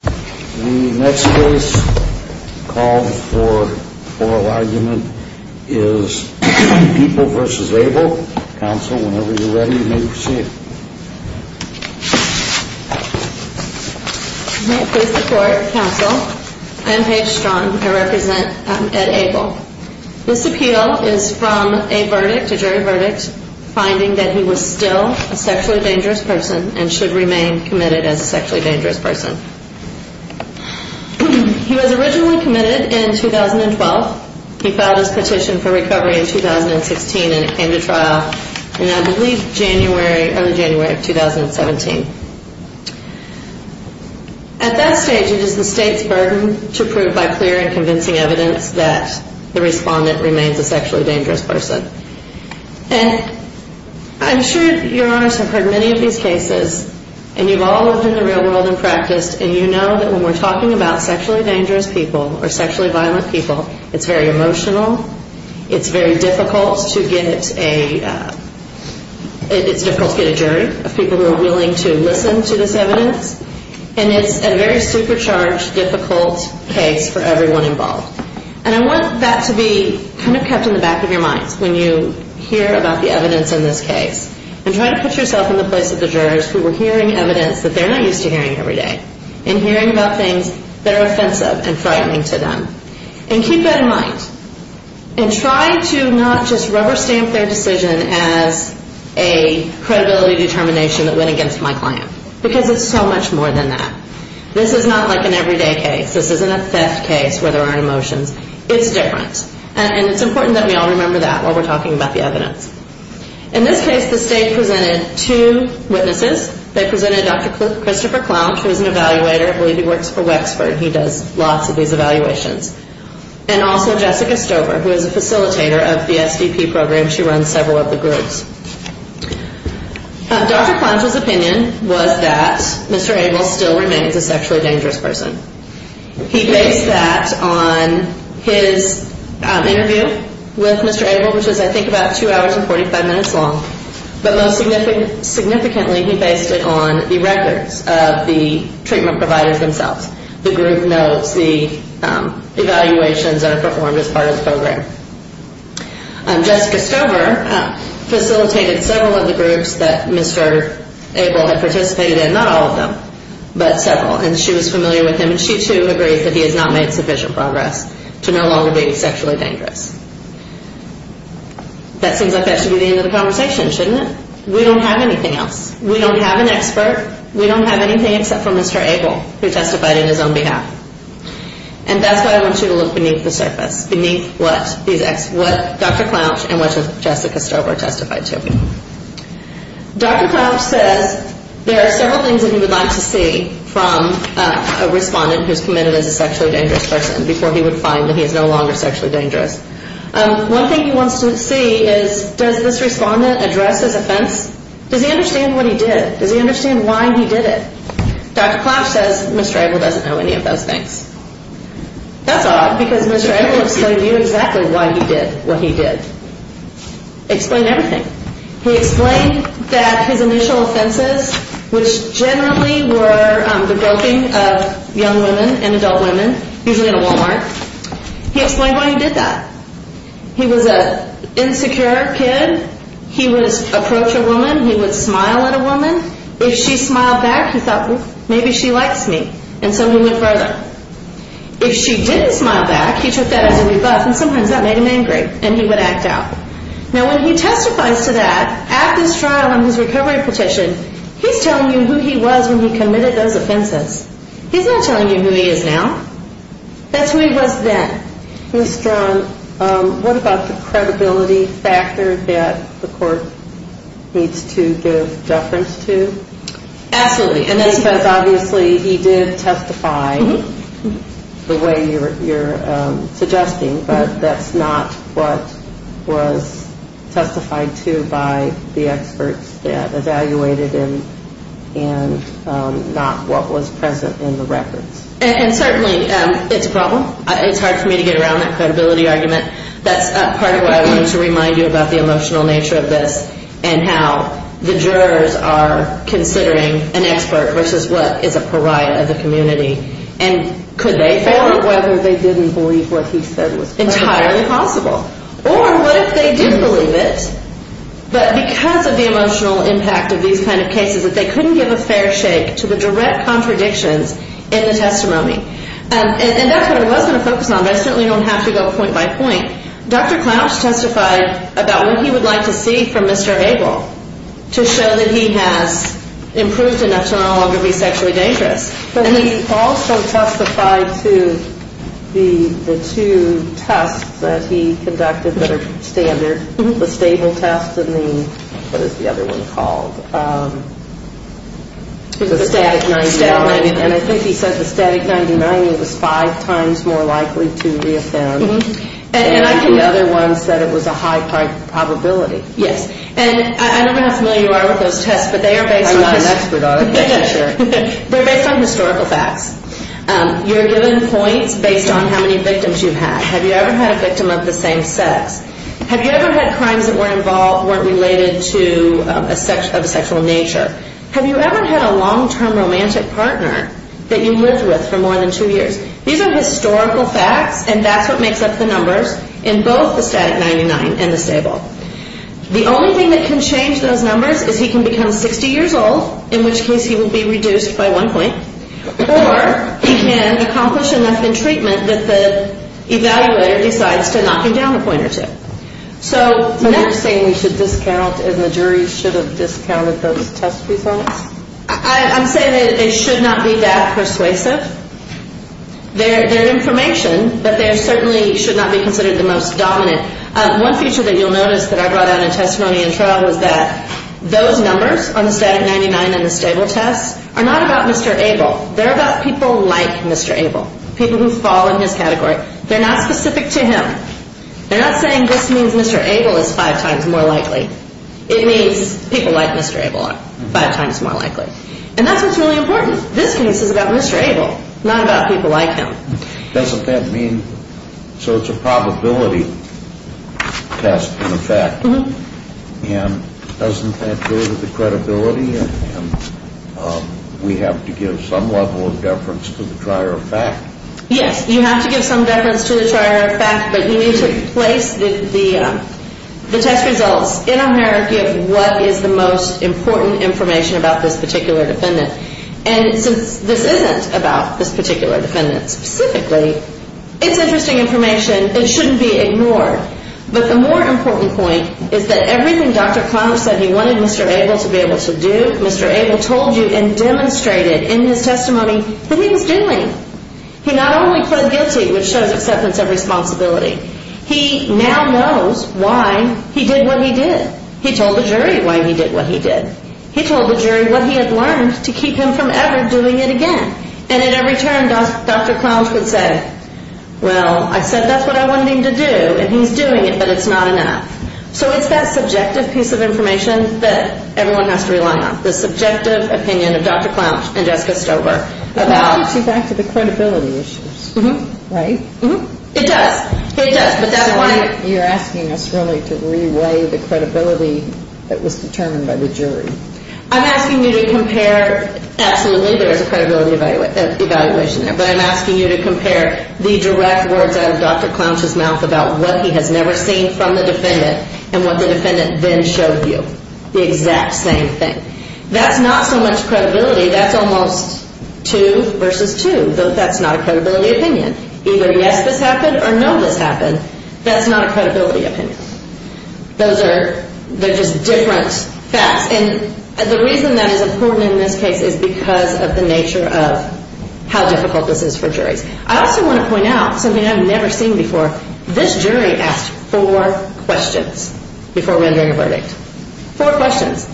The next case called for oral argument is People v. Abel. Counsel, whenever you're ready, you may proceed. May it please the Court, Counsel, I'm Paige Strong. I represent Ed Abel. This appeal is from a verdict, a jury verdict, finding that he was still a sexually dangerous person and should remain committed as a sexually dangerous person. He was originally committed in 2012. He filed his petition for recovery in 2016 and it came to trial in, I believe, early January of 2017. At that stage, it is the State's burden to prove by clear and convincing evidence that the respondent remains a sexually dangerous person. And I'm sure Your Honors have heard many of these cases and you've all lived in the real world and practiced and you know that when we're talking about sexually dangerous people or sexually violent people, it's very emotional, it's very difficult to get a, it's difficult to get a jury of people who are willing to listen to this evidence, and it's a very supercharged, difficult case for everyone involved. And I want that to be kind of kept in the back of your minds when you hear about the evidence in this case. And try to put yourself in the place of the jurors who were hearing evidence that they're not used to hearing every day and hearing about things that are offensive and frightening to them. And keep that in mind. And try to not just rubber stamp their decision as a credibility determination that went against my client. Because it's so much more than that. This is not like an everyday case. This isn't a theft case where there aren't emotions. It's different. And it's important that we all remember that while we're talking about the evidence. In this case, the state presented two witnesses. They presented Dr. Christopher Clouch, who is an evaluator. I believe he works for Wexford. He does lots of these evaluations. And also Jessica Stover, who is a facilitator of the SDP program. She runs several of the groups. Dr. Clouch's opinion was that Mr. Abel still remains a sexually dangerous person. He based that on his interview with Mr. Abel, which was I think about 2 hours and 45 minutes long. But most significantly, he based it on the records of the treatment providers themselves. The group notes, the evaluations that are performed as part of the program. Jessica Stover facilitated several of the groups that Mr. Abel had participated in. Not all of them, but several. And she was familiar with him. And she too agreed that he has not made sufficient progress to no longer be sexually dangerous. That seems like that should be the end of the conversation, shouldn't it? We don't have anything else. We don't have an expert. We don't have anything except for Mr. Abel, who testified in his own behalf. And that's why I want you to look beneath the surface. Beneath what Dr. Clouch and what Jessica Stover testified to. Dr. Clouch says there are several things that he would like to see from a respondent who is committed as a sexually dangerous person before he would find that he is no longer sexually dangerous. One thing he wants to see is does this respondent address his offense? Does he understand what he did? Does he understand why he did it? Dr. Clouch says Mr. Abel doesn't know any of those things. That's odd, because Mr. Abel explained to you exactly why he did what he did. Explained everything. He explained that his initial offenses, which generally were the groping of young women and adult women, usually at a Walmart, he explained why he did that. He was an insecure kid. He would approach a woman. He would smile at a woman. If she smiled back, he thought, well, maybe she likes me, and so he went further. If she didn't smile back, he took that as a rebuff, and sometimes that made him angry, and he would act out. Now, when he testifies to that, at this trial on his recovery petition, he's telling you who he was when he committed those offenses. He's not telling you who he is now. That's who he was then. Ms. Strong, what about the credibility factor that the court needs to give deference to? Absolutely. And that's because, obviously, he did testify the way you're suggesting, but that's not what was testified to by the experts that evaluated him and not what was present in the records. And certainly it's a problem. It's hard for me to get around that credibility argument. That's part of why I wanted to remind you about the emotional nature of this and how the jurors are considering an expert versus what is a pariah of the community, and could they fail? Or whether they didn't believe what he said was possible. Entirely possible. Or what if they did believe it, but because of the emotional impact of these kind of cases, that they couldn't give a fair shake to the direct contradictions in the testimony. And that's what I was going to focus on, but I certainly don't have to go point by point. Dr. Clouch testified about what he would like to see from Mr. Hagel to show that he has improved enough to no longer be sexually dangerous. But he also testified to the two tests that he conducted that are standard, the stable test and the, what is the other one called, the static 99. And I think he said the static 99 was five times more likely to reoffend. And the other one said it was a high probability. Yes. And I don't know how familiar you are with those tests, but they are based on I'm not an expert on it, that's for sure. They're based on historical facts. You're given points based on how many victims you've had. Have you ever had a victim of the same sex? Have you ever had crimes that weren't related to a sexual nature? Have you ever had a long-term romantic partner that you lived with for more than two years? These are historical facts, and that's what makes up the numbers in both the static 99 and the stable. The only thing that can change those numbers is he can become 60 years old, in which case he will be reduced by one point, or he can accomplish enough in treatment that the evaluator decides to knock him down a point or two. But you're saying we should discount and the jury should have discounted those test results? I'm saying that they should not be that persuasive. They're information, but they certainly should not be considered the most dominant. One feature that you'll notice that I brought out in testimony in trial was that those numbers on the static 99 and the stable tests are not about Mr. Abel. They're about people like Mr. Abel, people who fall in his category. They're not specific to him. They're not saying this means Mr. Abel is five times more likely. It means people like Mr. Abel are five times more likely, and that's what's really important. This case is about Mr. Abel, not about people like him. Doesn't that mean, so it's a probability test in effect, and doesn't that go with the credibility, and we have to give some level of deference to the trier of fact? Yes, you have to give some deference to the trier of fact, but you need to place the test results in a hierarchy of what is the most important information about this particular defendant. And since this isn't about this particular defendant specifically, it's interesting information. It shouldn't be ignored. But the more important point is that everything Dr. Conniff said he wanted Mr. Abel to be able to do, Mr. Abel told you and demonstrated in his testimony that he was doing. He not only pled guilty, which shows acceptance of responsibility, he now knows why he did what he did. He told the jury why he did what he did. He told the jury what he had learned to keep him from ever doing it again. And at every turn, Dr. Clounge would say, well, I said that's what I wanted him to do, and he's doing it, but it's not enough. So it's that subjective piece of information that everyone has to rely on, the subjective opinion of Dr. Clounge and Jessica Stover. But that gets you back to the credibility issues, right? It does. It does. So you're asking us really to re-weigh the credibility that was determined by the jury. I'm asking you to compare. Absolutely, there is a credibility evaluation there, but I'm asking you to compare the direct words out of Dr. Clounge's mouth about what he has never seen from the defendant and what the defendant then showed you, the exact same thing. That's not so much credibility. That's almost two versus two. That's not a credibility opinion. Either yes, this happened, or no, this happened. That's not a credibility opinion. Those are just different facts. And the reason that is important in this case is because of the nature of how difficult this is for juries. I also want to point out something I've never seen before. This jury asked four questions before rendering a verdict. Four questions.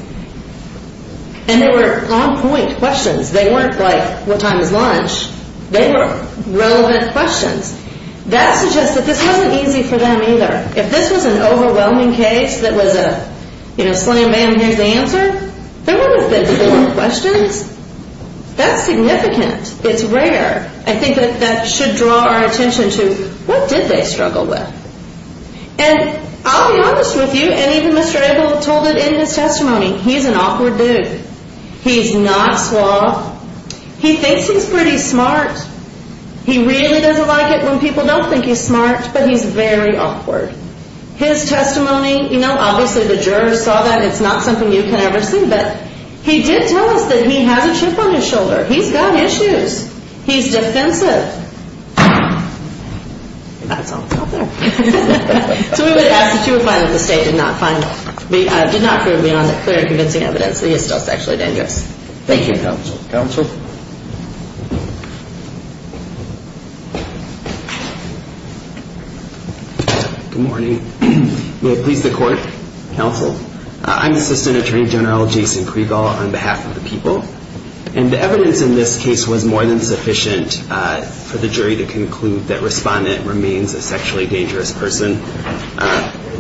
And they were on-point questions. They weren't like, what time is lunch? They were relevant questions. That suggests that this wasn't easy for them either. If this was an overwhelming case that was a slam-bam, here's the answer, there wouldn't have been four questions. That's significant. It's rare. I think that that should draw our attention to what did they struggle with? And I'll be honest with you, and even Mr. Abel told it in his testimony, he's an awkward dude. He's not suave. He thinks he's pretty smart. He really doesn't like it when people don't think he's smart, but he's very awkward. His testimony, you know, obviously the jurors saw that. It's not something you can ever see. But he did tell us that he has a chip on his shoulder. He's got issues. He's defensive. That's all. So we would ask that you would find that the State did not find, did not prove beyond the clear and convincing evidence that he is still sexually dangerous. Thank you, Counsel. Counsel? Good morning. May it please the Court, Counsel. I'm Assistant Attorney General Jason Kriegel on behalf of the people. And the evidence in this case was more than sufficient for the jury to conclude that Respondent remains a sexually dangerous person.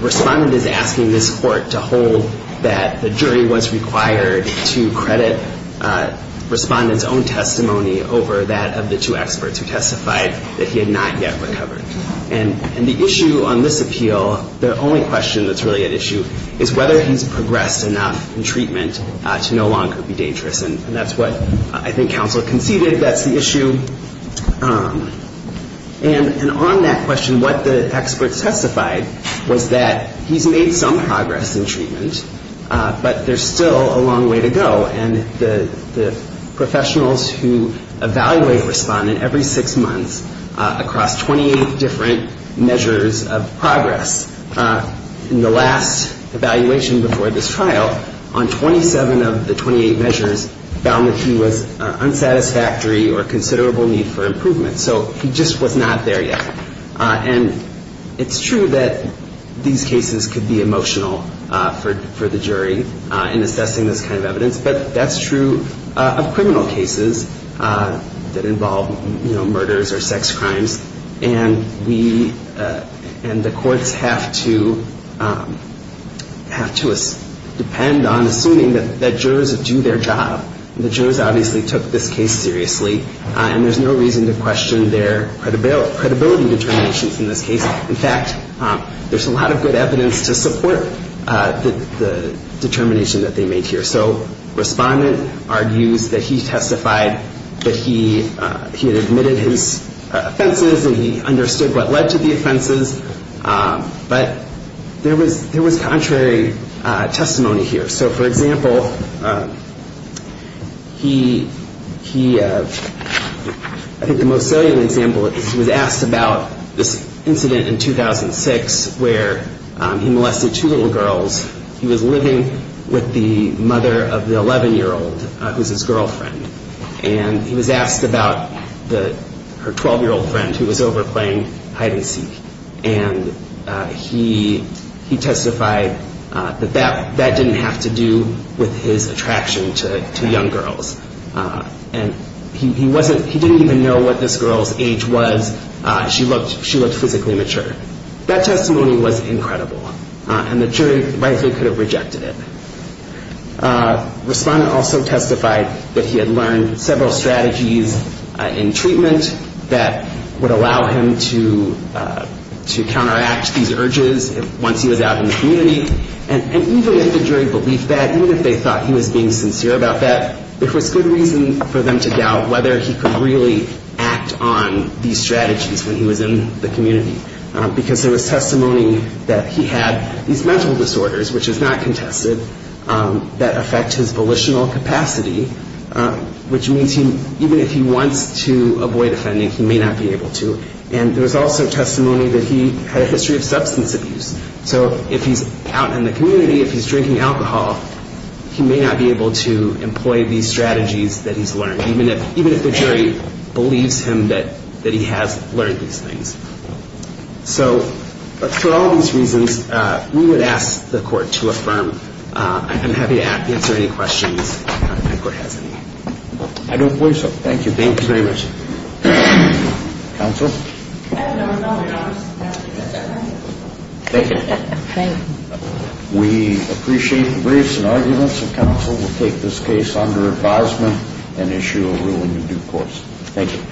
Respondent is asking this Court to hold that the jury was required to credit Respondent's own testimony over that of the two experts who testified that he had not yet recovered. And the issue on this appeal, the only question that's really at issue, is whether he's progressed enough in treatment to no longer be dangerous. And that's what I think Counsel conceded. That's the issue. And on that question, what the experts testified was that he's made some progress in treatment, but there's still a long way to go. And the professionals who evaluate Respondent every six months across 28 different measures of progress. In the last evaluation before this trial, on 27 of the 28 measures, found that he was unsatisfactory or considerable need for improvement. So he just was not there yet. And it's true that these cases could be emotional for the jury in assessing this kind of evidence, but that's true of criminal cases that involve, you know, murders or sex crimes. And the courts have to depend on assuming that jurors do their job. The jurors obviously took this case seriously, and there's no reason to question their credibility determinations in this case. In fact, there's a lot of good evidence to support the determination that they made here. So Respondent argues that he testified that he had admitted his offenses and he understood what led to the offenses, but there was contrary testimony here. So, for example, he, I think the most salient example is he was asked about this incident in 2006 where he molested two little girls. He was living with the mother of the 11-year-old, who's his girlfriend. And he was asked about her 12-year-old friend who was over playing hide-and-seek. And he testified that that didn't have to do with his attraction to young girls. And he didn't even know what this girl's age was. She looked physically mature. That testimony was incredible, and the jury rightly could have rejected it. Respondent also testified that he had learned several strategies in treatment that would allow him to counteract these urges once he was out in the community. And even if the jury believed that, even if they thought he was being sincere about that, there was good reason for them to doubt whether he could really act on these strategies when he was in the community, because there was testimony that he had these mental disorders, which is not contested, that affect his volitional capacity, which means even if he wants to avoid offending, he may not be able to. And there was also testimony that he had a history of substance abuse. So if he's out in the community, if he's drinking alcohol, he may not be able to employ these strategies that he's learned, even if the jury believes him that he has learned these things. So for all these reasons, we would ask the court to affirm. I'm happy to answer any questions if the court has any. I don't believe so. Thank you. Thank you very much. Counsel? Thank you. We appreciate the briefs and arguments, and counsel will take this case under advisement and issue a ruling in due course. Thank you.